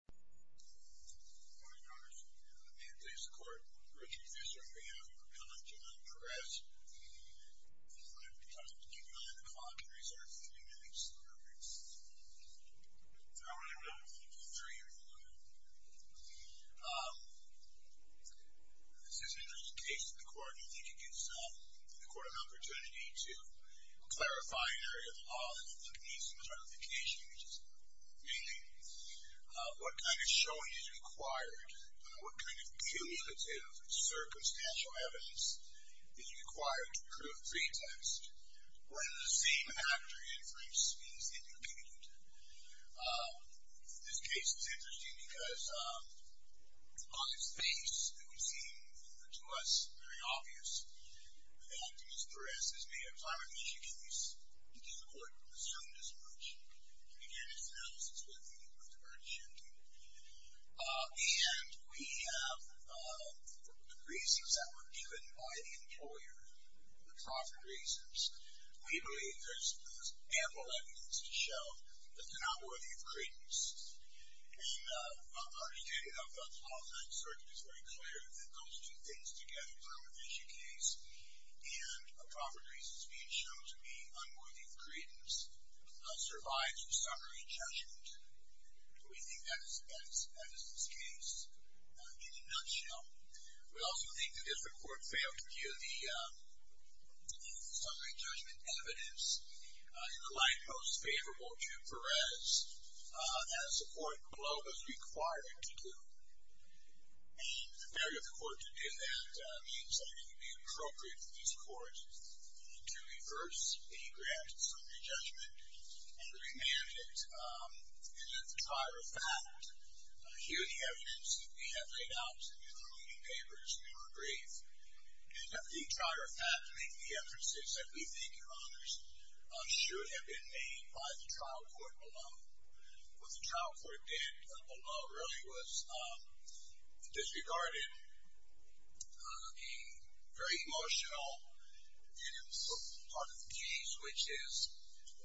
Good morning, Your Honors. May it please the Court, Richard Fischer on behalf of the Proponent, John Perez. I'm going to be talking to you behind the clock and reserving a few minutes. How are you doing? I'm doing great, how are you doing? This is an interesting case in the Court, and I think it gives the Court an opportunity to clarify an area of the law that needs some clarification, which is meaning what kind of showing is required, what kind of cumulative, circumstantial evidence is required to prove pretext. Whether the same actor inferenced is independent. This case is interesting because on its base, it would seem to us very obvious that Mr. Perez has made a clarification case that the Court assumed as much. Again, it's an analysis with the return to shooting. And we have the reasons that were given by the employer. The profit reasons. We believe there's ample evidence to show that they're not worthy of credence. And our study of the qualifying search is very clear that those two things together, permanent issue case and a profit reason speech, show to me unworthy of credence survives in summary judgment. We think that is this case. In a nutshell, we also think that if the Court failed to give the summary judgment evidence in the light most favorable to Perez, as the Court below has required it to do, the merit of the Court to do that means that it would be appropriate for this Court to reverse a grant summary judgment and remand it and at the trier of fact hear the evidence that we have laid out in the concluding papers in our brief. And at the trier of fact make the emphases that we think in honors should have been made by the trial court below. What the trial court did below really was disregarded a very emotional and sort of part of the case, which is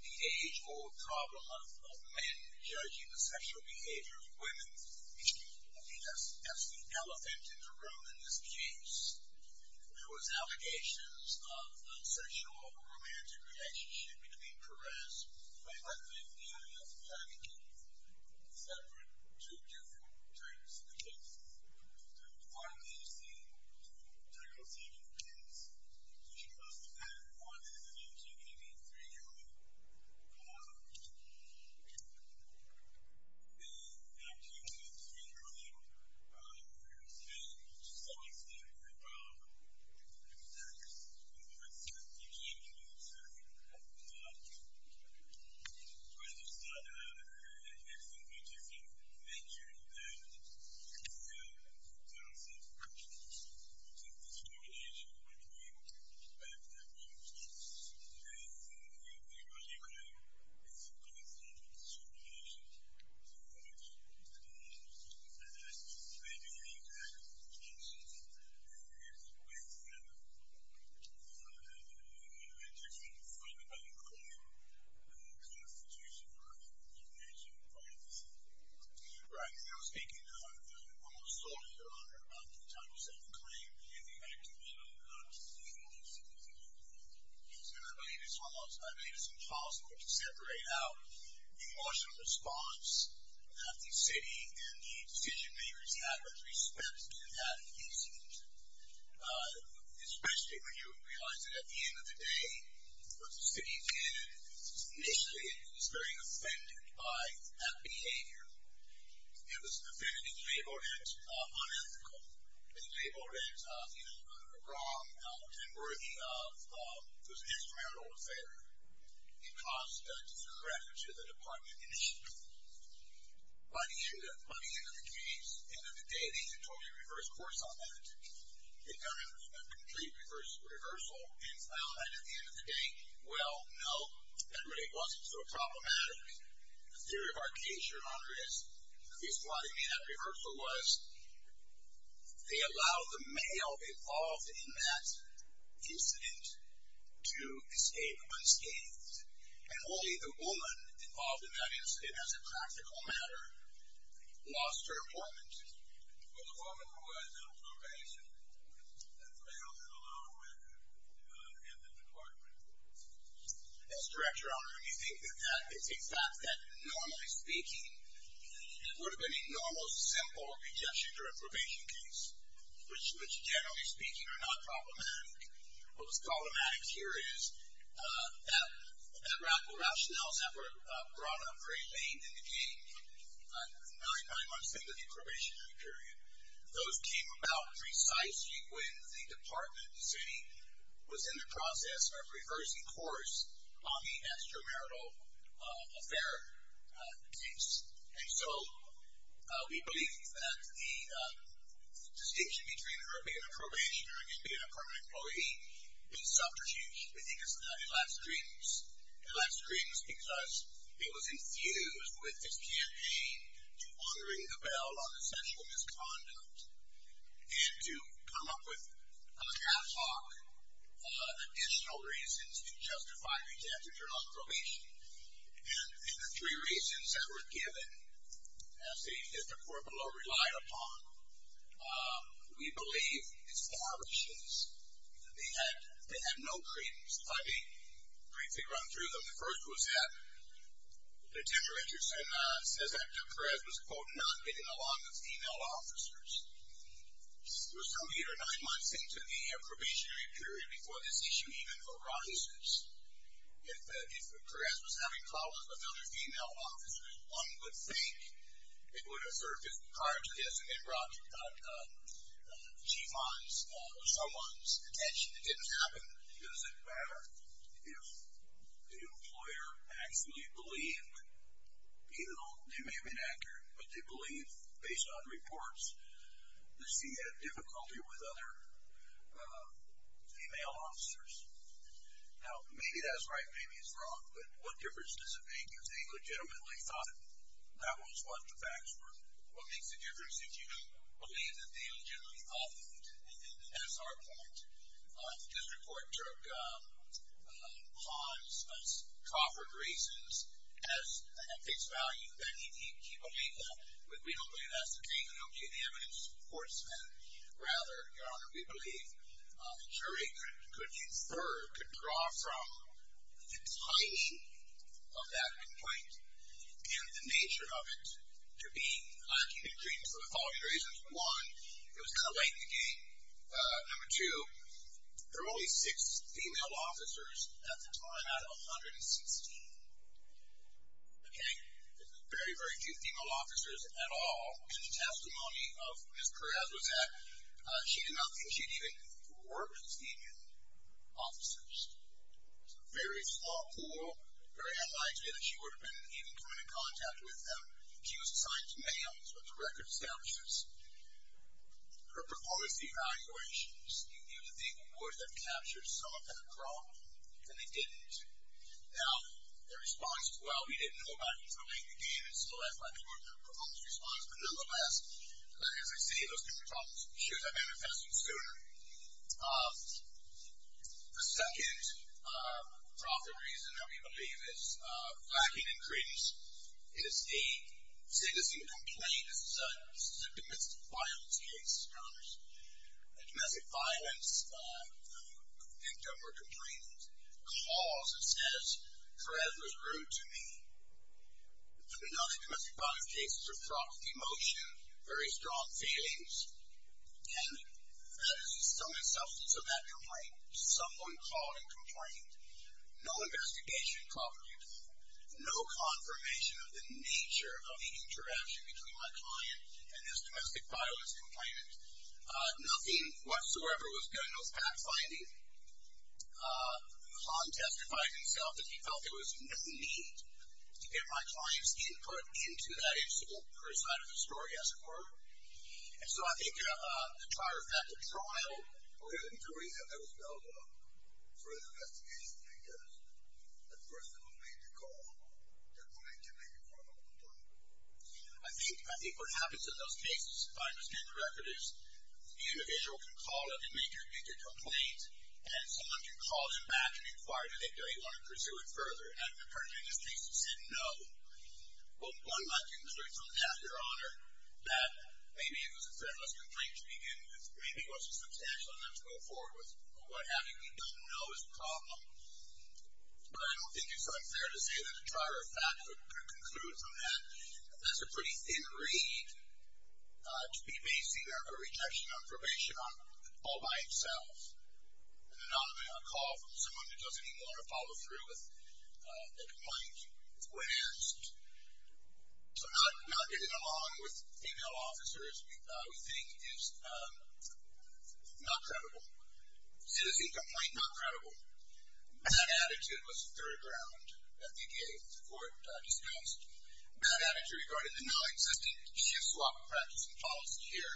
the age or trauma of men judging the sexual behavior of women. I mean, that's the elephant in the room in this case. There was allegations of a sexual or romantic relationship between Perez. By the way, the only other thing I can give is that there are two different terms in the case. One is the term of sexual preference, which was defined in the 1983 ruling. In 1983 ruling, Perez had some experience of having sex with women. He came to me and said, when you start having sex with women, you just need to make sure that you conceal the terms of sexual relations between men and women. And I think the only way is to conceal the terms of sexual relations between women and men. And I think they do need to recognize that there is a way for men and women to come to find out who the constitution or the definition of women is. Right. And I was thinking of one of the soldiers that were under the Title VII claim in the act of shooting down a police officer. And I believe it's impossible to separate out the emotional response that the city and the decision-makers had with respect to that incident. Especially when you realize that at the end of the day, what the city did, initially, it was very offended by that behavior. It was offended and labeled it unethical. It was labeled it wrong and worthy of this instrumental affair. It caused a discredit to the department initiative. By the end of the case, at the end of the day, they had totally reversed course on that. It was a complete reversal. And finally, at the end of the day, well, no. That really wasn't so problematic. The theory of our case here, Andres, at least why they made that reversal, was they allowed the male involved in that incident to escape unscathed. And only the woman involved in that incident, as a practical matter, lost her appointment. Well, the woman who was in probation failed to allow her in the department. Yes, Director. You think that that is a fact that, normally speaking, it would have been a normal, simple injunction during a probation case, which, generally speaking, are not problematic. What was problematic here is that Ralph Schnell's effort brought up very faintly. Nine months into the probationary period, those came about precisely when the department, the city, was in the process of reversing course on the extramarital affair case. And so we believe that the distinction between her being a probationer and being a permanent employee is subterfuge. I think it's not. It lacks credence. It lacks credence because it was infused with this campaign to honoring the bell on essential misconduct and to come up with, on the catwalk, additional reasons to justify the attempt to turn off probation. And the three reasons that were given, as the corporal relied upon, we believe, is the arbitrations. They had no credence. If I may briefly run through them. The first was that Det. Richardson says that Jim Perez was, quote, not getting along with female officers. There was no eight or nine month thing to the probationary period before this issue even arises. If Perez was having calls with other female officers, one would think it would have served his card to guess that it brought someone's attention. It didn't happen. Does it matter if the employer actually believed, even though they may have been accurate, but they believe, based on reports, that she had difficulty with other female officers? Now, maybe that's right, maybe it's wrong, but what difference does it make if they legitimately thought that was what the facts were? What makes the difference if you believe that they legitimately thought, and this is our point, that this report took Han's, Smith's, Crawford's reasons as at face value, that he believed them, but we don't believe that's the case. We don't believe the evidence supports that. Rather, Your Honor, we believe the jury could infer, could draw from the type of that complaint and the nature of it to be a dream for the following reasons. One, it was kind of late in the game. Number two, there were only six female officers at the time, out of 116. Okay? There were very, very few female officers at all. In the testimony of Ms. Perez, she did not think she had even worked with female officers. It's a very flawed pool, very unlikely that she would have been even coming in contact with them. She was assigned to many of them. That's what the record establishes. Her performance evaluations, you knew that they would have captured something wrong, and they didn't. Now, their response was, well, we didn't know about it until late in the game, and so that's why we weren't going to propose a response. But nonetheless, as I say, those kinds of problems should have manifested sooner. The second probable reason that we believe is lacking in credence is a citizen complaint, a domestic violence case. A domestic violence victim or complainant calls and says, Perez was rude to me. The non-domestic violence cases are fraught with emotion, very strong feelings, and that is the sum and substance of that complaint. Someone called and complained. No investigation coverage. No confirmation of the nature of the interaction between my client and this domestic violence complainant. Nothing whatsoever was done. No fact-finding. Khan testified himself that he felt there was no need to get my client's input into that incident, or inside of the story, as it were. And so I think the trial, Okay, the jury has never spelled out for an investigation because the person who made the call did not make a formal complaint. I think what happens in those cases, if I understand the record, is the individual can call up and make a complaint, and someone can call them back and inquire, do they want to pursue it further? And the person in this case said no. Well, one might conclude from that, Your Honor, that maybe it was a threatless complaint to begin with. Maybe it wasn't substantial enough to go forward with what happened. We don't know is the problem. But I don't think it's unfair to say that a trial or fact could conclude from that. That's a pretty thin reed to be basing a rejection on probation all by itself, and not a call from someone who doesn't even want to follow through with a complaint. It's weird. So not getting along with female officers, we think, is not credible. Citizenship complaint, not credible. Bad attitude was the third round that the court discussed. Bad attitude regarding the nonexistent shoe-swap practice and policy here.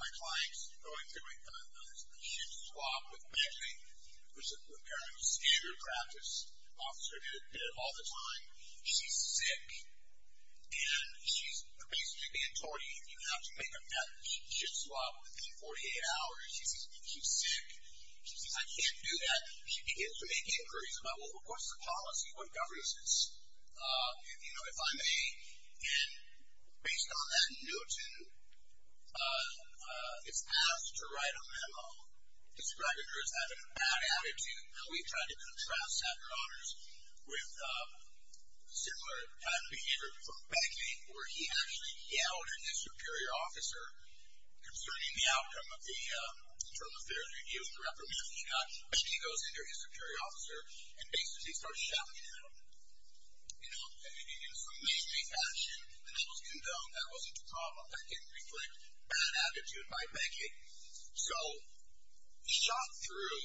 My clients are going through a shoe-swap with imagining which is apparently a standard practice. An officer did it all the time. She's sick, and she's basically being told, you have to make a shoe-swap within 48 hours. She's sick. She says, I can't do that. She begins to make inquiries about, well, of course, the policy, what governs this, if I may. And based on that, Newton is asked to write a memo describing her as having a bad attitude. We tried to contrast that, Your Honors, with similar kind of behavior from Beckett, where he actually yelled at his superior officer concerning the outcome of the term of failure to use the reprimand he got. Beckett goes in there, his superior officer, and basically starts shouting at him. And he did it in some amazing fashion. The memo was condoned. That wasn't the problem. That didn't reflect bad attitude by Beckett. So shot through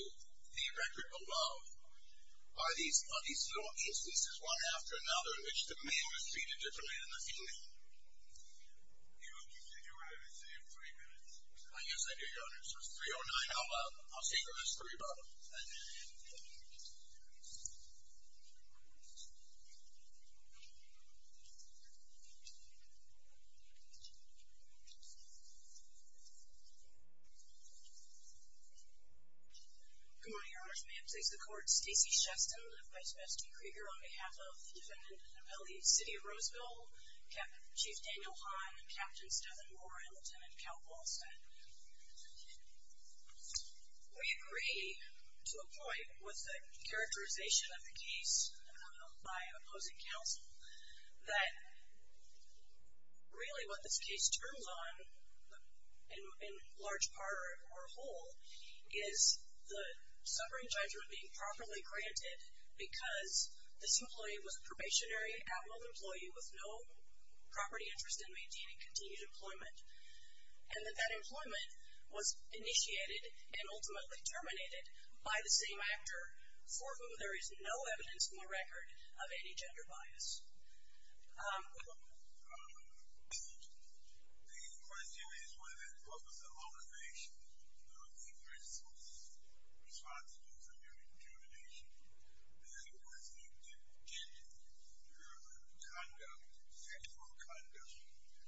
the record of love are these little cases, one after another, in which the man was treated differently than the female. You have three minutes. Yes, I do, Your Honors. It's 3.09. I'll see if there's a story about it. Good morning, Your Honors. May it please the Court. Stacey Sheston, Vice President Krieger, on behalf of defendant and appellate in the city of Roseville, Chief Daniel Hahn, Captain Stephen Warren, and Lieutenant Cal Paulson. We agree to a point with the characterization of the case by opposing counsel that really what this case turns on, in large part or whole, is the suffering judgment being properly granted because this employee was a probationary outlawed employee with no property interest in maintaining continued employment, and that that employment was initiated and ultimately terminated by the same actor for whom there is no evidence in the record of any gender bias. The question is whether, what was the motivation of the responsible for your incrimination, and was it to change your conduct, sexual conduct,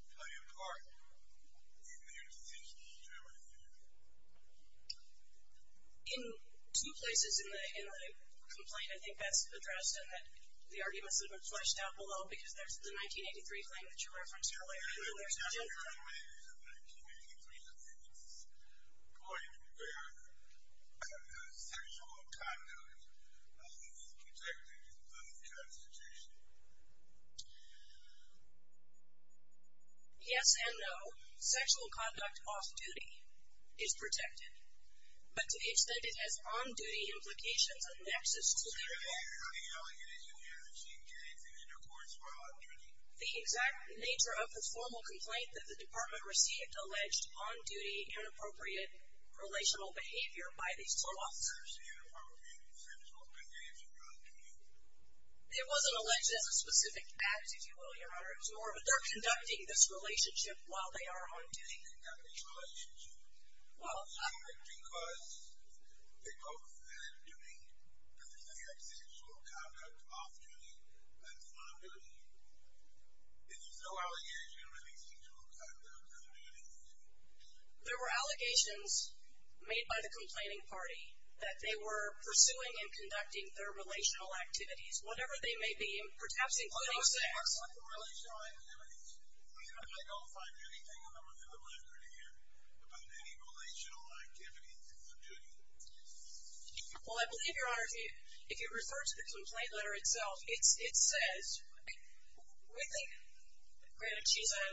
on your part, in your decision to terminate you? In two places in the complaint, I think that's addressed, and the argument must have been fleshed out below because that's the 1983 claim that you referenced earlier. It's not the 1983 claim, it's the 1983 defendant's point where sexual conduct only is protected in this kind of situation. Yes and no. Sexual conduct off-duty is protected, but it's that it has on-duty implications that's the nexus to the complaint. The exact nature of the formal complaint that the department received alleged on-duty inappropriate relational behavior by these two law officers It wasn't alleged as a specific act, if you will, Your Honor. It was more of a they're conducting this relationship while they are on-duty. Well... There were allegations made by the complaining party that they were pursuing and conducting their relational activities, whatever they may be, perhaps including sex. About any relational activities on-duty? Well, I believe, Your Honor, if you refer to the complaint letter itself, it says... Granted, she's a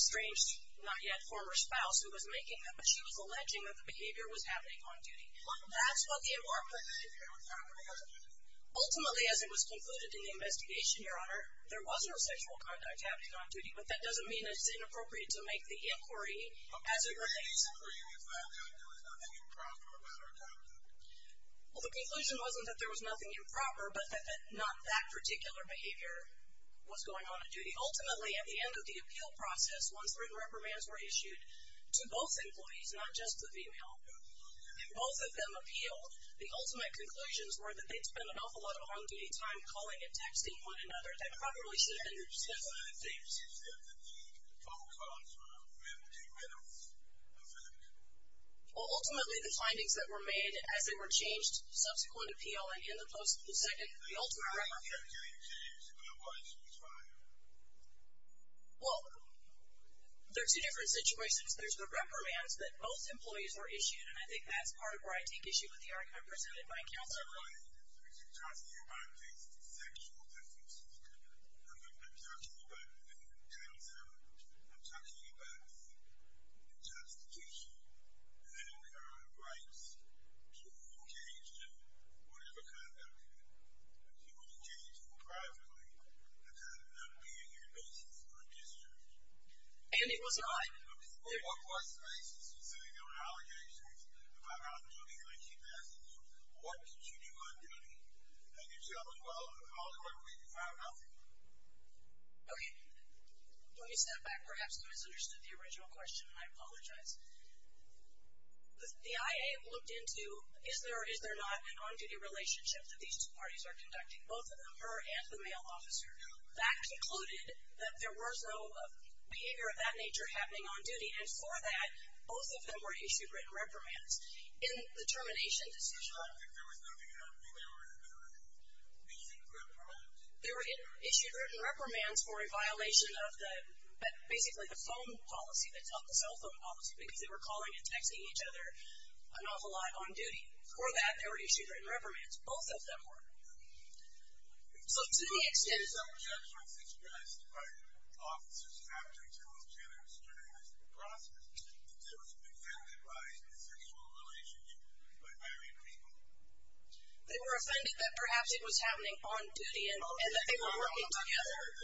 estranged, not-yet-former spouse who was making them, but she was alleging that the behavior was happening on-duty. Ultimately, as it was concluded in the investigation, Your Honor, there was no sexual conduct happening on-duty, but that doesn't mean it's inappropriate to make the inquiry as it relates. Well, the conclusion wasn't that there was nothing improper, but that not that particular behavior was going on on-duty. Ultimately, at the end of the appeal process, once three reprimands were issued to both employees, not just the female, and both of them appealed, the ultimate conclusions were that they'd spent an awful lot of on-duty time calling and texting one another that probably should have been... Well, ultimately, the findings that were made as they were changed subsequent to appealing in the post-second, the ultimate reprimand... Well, there are two different situations. There's the reprimands that both employees were issued, and I think that's part of where I take issue with the argument presented by counsel. ...the justification that in her rights, she was engaged in whatever kind of activity. She was engaged in privately. That doesn't have to be on your basis or in history. And it was not... What was the basis for sending out allegations about how she was manipulating passengers? What did she do on-duty? And if so, how did we find out? Okay. Let me step back. Perhaps no one's understood the original question, and I apologize. The IA looked into, is there or is there not an on-duty relationship that these two parties are conducting, both of them, her and the male officer? That concluded that there was no behavior of that nature happening on duty, and for that, both of them were issued written reprimands. In the termination decision... They were issued written reprimands for a violation of basically the phone policy, the cell phone policy, because they were calling and texting each other an awful lot on duty. For that, they were issued written reprimands. Both of them were. So to the extent... They were offended that perhaps it was happening on duty and that they were working together. If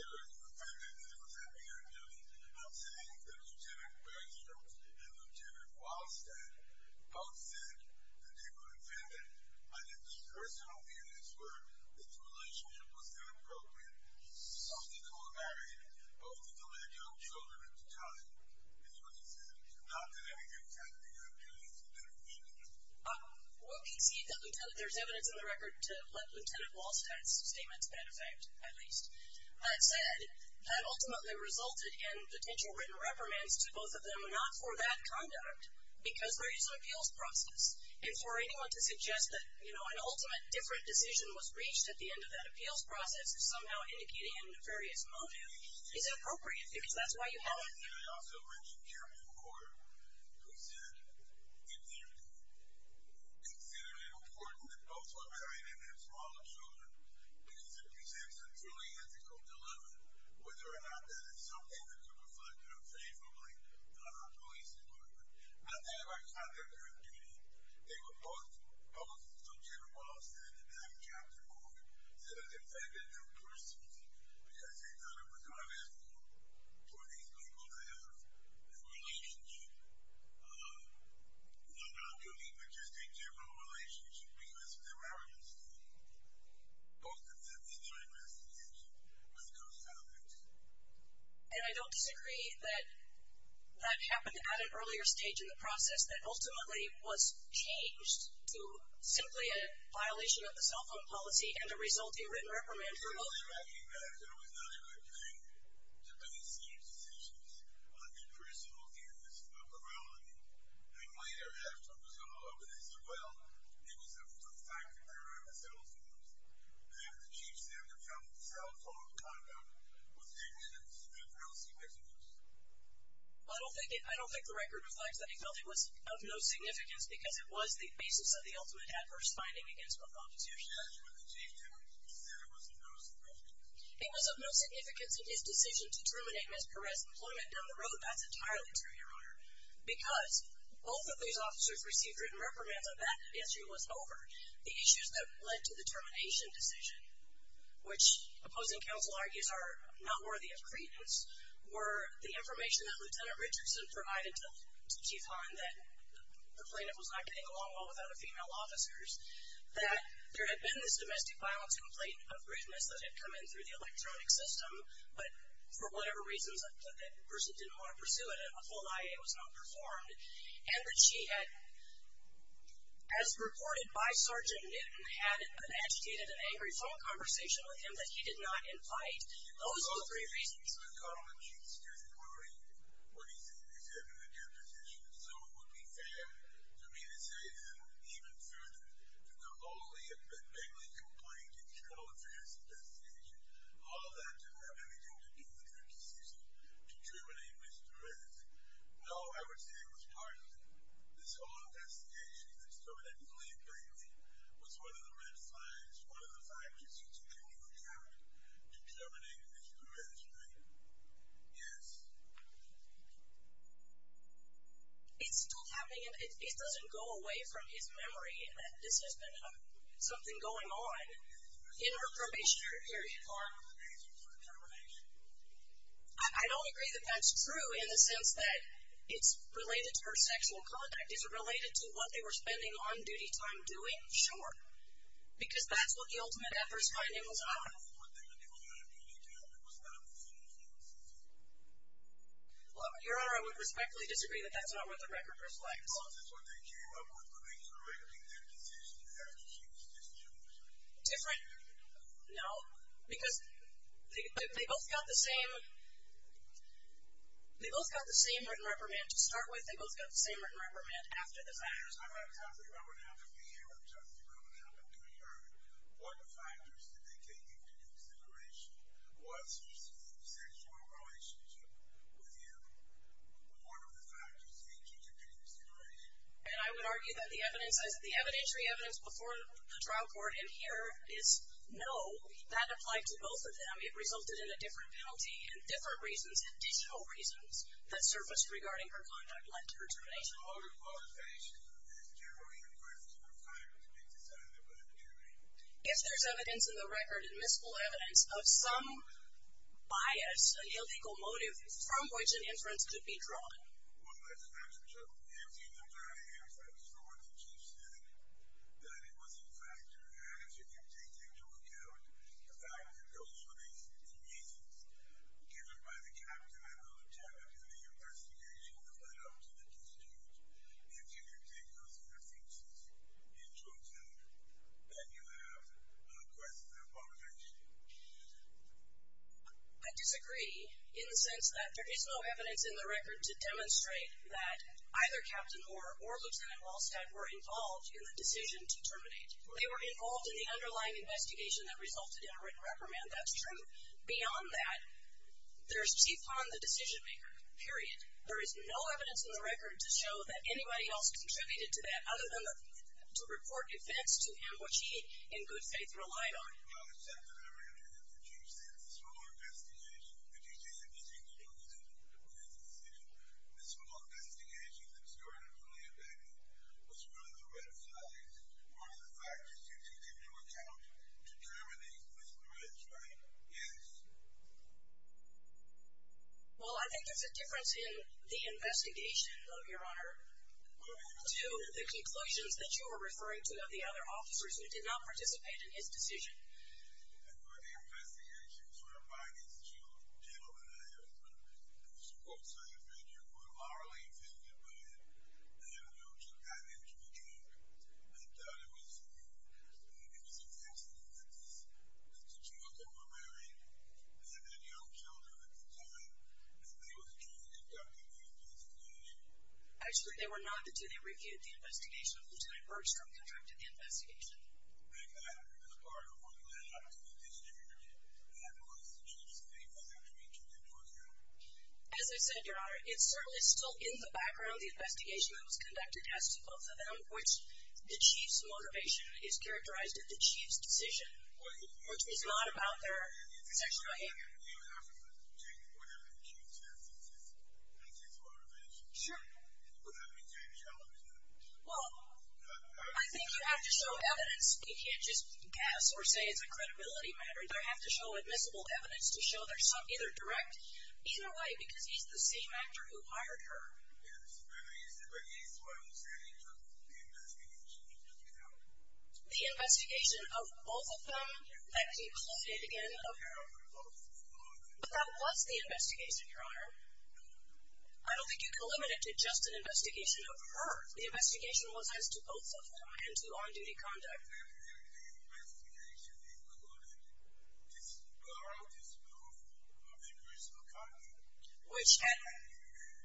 the relationship was inappropriate, some people were married. Both of them had young children at the time. It's what he said. Not that any of that behavior appealed to their feelings. What he said... There's evidence in the record to let Lt. Walsh have his statements, as a matter of fact, at least, said that ultimately resulted in potential written reprimands to both of them, not for that conduct, because they're using an appeals process. And for anyone to suggest that, you know, an ultimate different decision was reached at the end of that appeals process is somehow indicating a nefarious motive is inappropriate, because that's why you have it. I also mentioned Jeremy Moore, who said, if they're considered important that both were married and had smaller children, because it presents a truly ethical dilemma whether or not that is something that could reflect unfavorably on our police department. I think, by the time they were interviewed, they were both subject of what I'll say in the next chapter, that it affected their personalty, because they thought it was unethical for these people to have this relationship, not only but just a general relationship because of their arrogance to both defend their investigation when it comes out of it. And I don't disagree that that happened at an earlier stage in the process that ultimately was changed to simply a violation of the cell phone policy and a resulting written reprimand for both. I don't think that it was not a good thing to make such decisions on a personal basis about morality. And later, as Trump was all over this as well, it was a factor around the cell phones that the chief said the cell phone conduct was negligent and grossly misinduced. I don't think the record reflects that he felt it was of no significance because it was the basis of the ultimate adverse finding against Trump's opposition. Because when the chief said it was of no significance? It was of no significance in his decision to terminate Ms. Perez's employment down the road. That's entirely true, Your Honor. Because both of these officers received written reprimands when that issue was over. The issues that led to the termination decision, which opposing counsel argues are not worthy of credence, were the information that Lt. Richardson provided to Chief Hahn that the plaintiff was not getting along well with other female officers. That there had been this domestic violence complaint of richness that had come in through the electronic system, but for whatever reasons that person didn't want to pursue it, a full IA was not performed. And that she had, as reported by Sergeant Nitton, had an agitated and angry phone conversation with him that he did not invite. Those were the three reasons. I'm calling on Chief's testimony. What he said, he said it was a good decision. So it would be fair for me to say, and even further, that the whole Leah Bangley complaint and the whole of this investigation, all of that didn't have anything to do with the decision to terminate Mr. Perez. No, I would say it was part of this whole investigation that determined that Leah Bangley was one of the red flags, one of the factors that took a new turn to terminate Mr. Perez, right? Yes. It's still happening, and it doesn't go away from his memory that this has been something going on in her probationary period. Your Honor, the reason for the termination? I don't agree that that's true in the sense that it's related to her sexual contact. Is it related to what they were spending on-duty time doing? Sure. Because that's what the ultimate effort's finding was not. What they were doing on duty time was not the same as what they were doing on probation. Your Honor, I would respectfully disagree that that's not what the record reflects. Well, that's what they came up with when they were making their decision after she was discharged. Different? No. Because they both got the same... They both got the same written reprimand. To start with, they both got the same written reprimand after the fact. I'm not talking about what happened to Leah, I'm talking about what happened to her. What factors did they take into consideration? What's your sense of sexual relationship with him? What are the factors that you took into consideration? I would argue that the evidentiary evidence before the trial court in here is no. That applied to both of them. It resulted in a different penalty and different reasons, additional reasons, that surfaced regarding her conduct led to her termination. What are your qualifications as a jury in reference to her time to be decided by the jury? If there's evidence in the record, admissible evidence, of some bias, an illegal motive, from which an inference could be drawn? Well, as a matter of fact, I was told when the chief said that it was a factor that you take into account the fact that those were the reasons given by the captain and the lieutenant in the investigation that led up to the dispute. If you can take those into account, then you have a question of obligation. I disagree in the sense that there is no evidence in the record to demonstrate that either captain or lieutenant Hallstatt were involved in the decision to terminate. They were involved in the underlying investigation that resulted in a written reprimand, that's true. Beyond that, there's teeth on the decision maker, period. There is no evidence in the record to show that anybody else contributed to that other to report events to which he, in good faith, relied on. Well, I think there's a difference in the investigation, your honor, to the conclusions that you were referring to of the other officers who did not participate in his decision. And were the investigations were by these two gentlemen, I suppose, so you think you were morally offended by it? I don't know if you've gotten into the game, but it was an accident that the two of them were married and had young children at the time and they were trying to conduct an investigation. Actually, they were not until they refuted the investigation in which they merged from contract to the investigation. As I said, your honor, it's certainly still in the background of the investigation that was conducted as to both of them, which the chief's motivation is characterized in the chief's decision, which is not about their sexual behavior. Sure. Well, I think you have to show evidence. We can't just pass or say it's a credibility matter. They have to show admissible evidence to show they're either direct. Either way, because he's the same actor who hired her. The investigation of both of them that he quoted again of her. But that was the investigation, your honor. I don't think you eliminated just an investigation of her. The investigation was as to both of them and to on-duty conduct. The investigation included a disproof of their personal conduct. Which had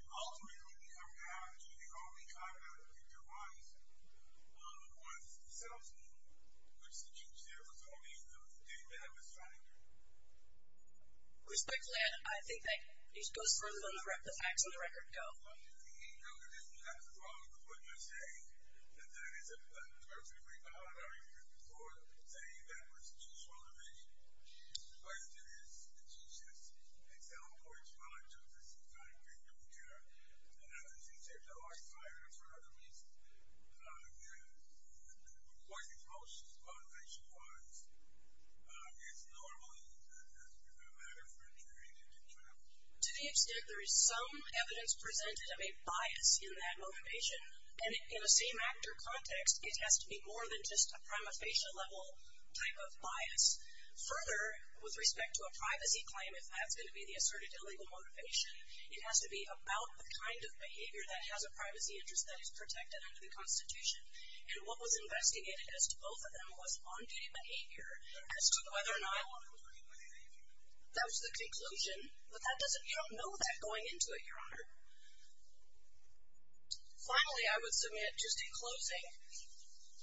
ultimately come down to the only conduct they devised was the self-defense, which the chief said was only the victim that was trying to do it. Respectfully, I think that it goes But did he know that this was not the product of what you're saying? That that is a perfectly valid argument for saying that was the chief's motivation. The question is, did she just excel or excel at justice in trying to take care of her? She seemed to like hiring her for other reasons. According to what she's motivation was, it's normally a matter for an interagent to travel. To the extent there is some evidence presented of a bias in that motivation, and in a same actor context, it has to be more than just a prima facie level type of bias. Further, with respect to a privacy claim, if that's going to be the asserted illegal motivation, it has to be about the kind of behavior that has a privacy interest that is protected under the Constitution. And what was investigated as to both of them was on-duty behavior as to whether or not that was the conclusion. But that doesn't count. No one's going into it, Your Honor. Finally, I would submit, just in closing,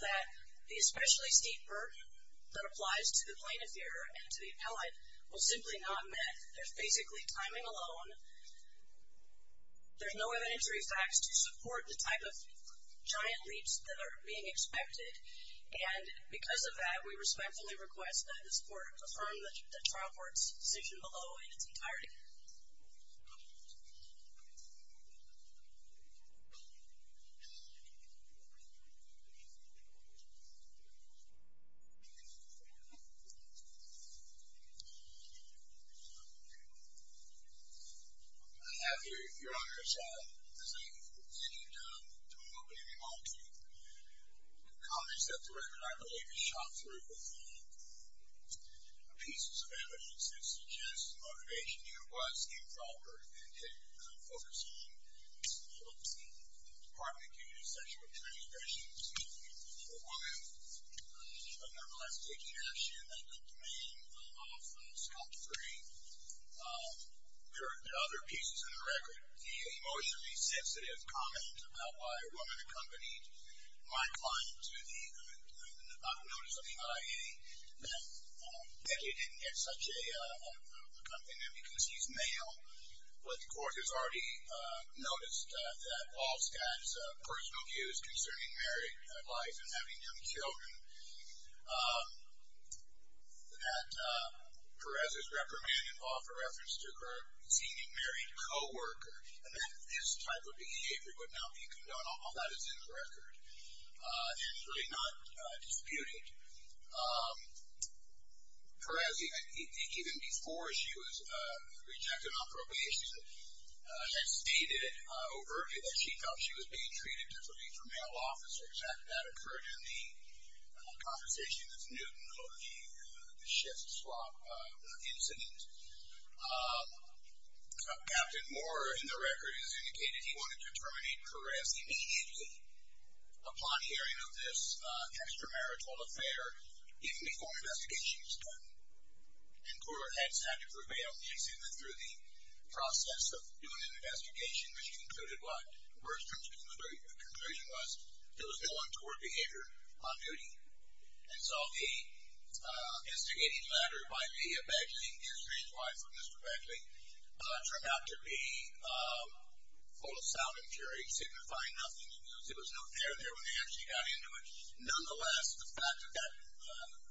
that the especially steep burden that applies to the plaintiff here and to the appellate was simply not met. They're basically timing alone. There's no evidentiary facts to support the type of giant leaps that are being expected, and because of that, we respectfully request that this Court affirm the trial court's decision below in its entirety. Thank you, Your Honor. I have here, Your Honor, a shot as I continue to open it up to comments that the record, I believe, is shot through with pieces of evidence that suggest the motivation here was a proper and focused team of the Department of Community Sexual Transgressions. The woman nevertheless taking action that took the name of Scott Green. There are other pieces in the record. The emotionally sensitive comment about why a woman accompanied my client to the Nevada notice of the IA, that Becky didn't get such a accompaniment because he's male. But the Court has already noticed that all Scott's personal views concerning married life and having young children, that Perez's reprimand involved a reference to her senior married co-worker, and that this type of behavior would not be condoned. All that is in the record. It's really not disputed. Perez, even before she was rejected on probation, has stated overtly that she felt she was being treated differently from male officers. That occurred in the conversation with Newton over the shift swap incident. Captain Moore, in the record, has indicated he wanted to terminate Perez immediately upon hearing of this extramarital affair, even before investigations were done. And Court has had to prevail. They say that through the process of doing an investigation, which concluded what Moore's conclusion was, there was no untoward behavior on duty. And so the instigating matter by the imagining his wife or Mr. Beckley turned out to be full of sound and jury, signifying nothing. It was no fair there when they actually got into it. Nonetheless, the fact of that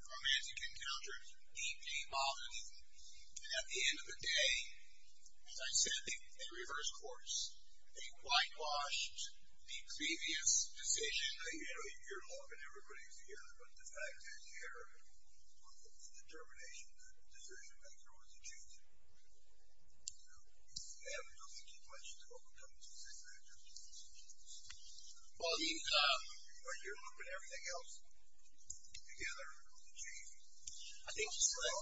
romantic encounter came often. And at the end of the day, as I said, they reversed course. They whitewashed the previous decision. You know, you're looking at everybody together, but the fact that there was a determination that the decision-maker was a Jew, you know, I don't think you'd want you to overcome this decision. Well, the, uh... You're looking at everything else together. I think just like...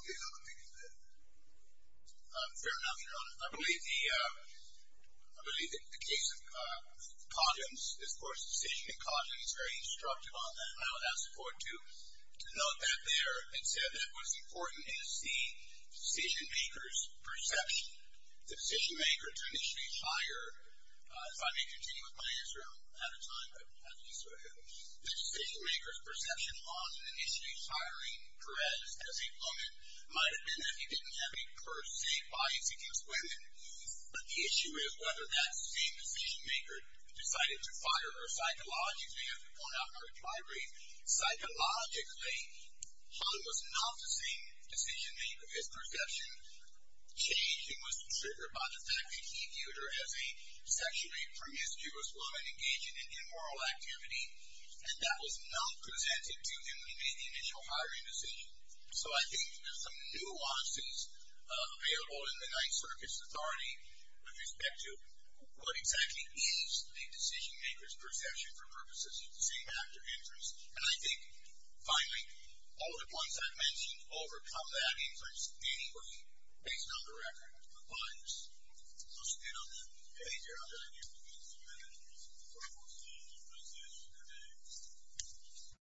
Fair enough. You know, I believe the, uh... I believe that the case of Coggins, of course, decision in Coggins is very instructive on that. And I would ask the Court to note that there and said that what's important is the decision-maker's perception. The decision-maker to initially hire, if I may continue with my answer out of time, but I'll just go ahead. The decision-maker's perception on initially hiring Perez as a woman might have been that he didn't have a per se bias against women. But the issue is whether that same decision-maker decided to fire her psychologically or not require it. Psychologically, one was not the same decision-maker. His perception changed. He was triggered by the fact that he viewed her as a sexually promiscuous woman engaging in immoral activity. And that was not presented to him in the initial hiring decision. So I think there's some nuances available in the Ninth Circus Authority with respect to what exactly is a decision-maker's perception for purposes of the same after-inference. And I think, finally, all the points I've mentioned overcome that inference anyway, based on the record, but I'll just end on that. Thank you very much. Thank you.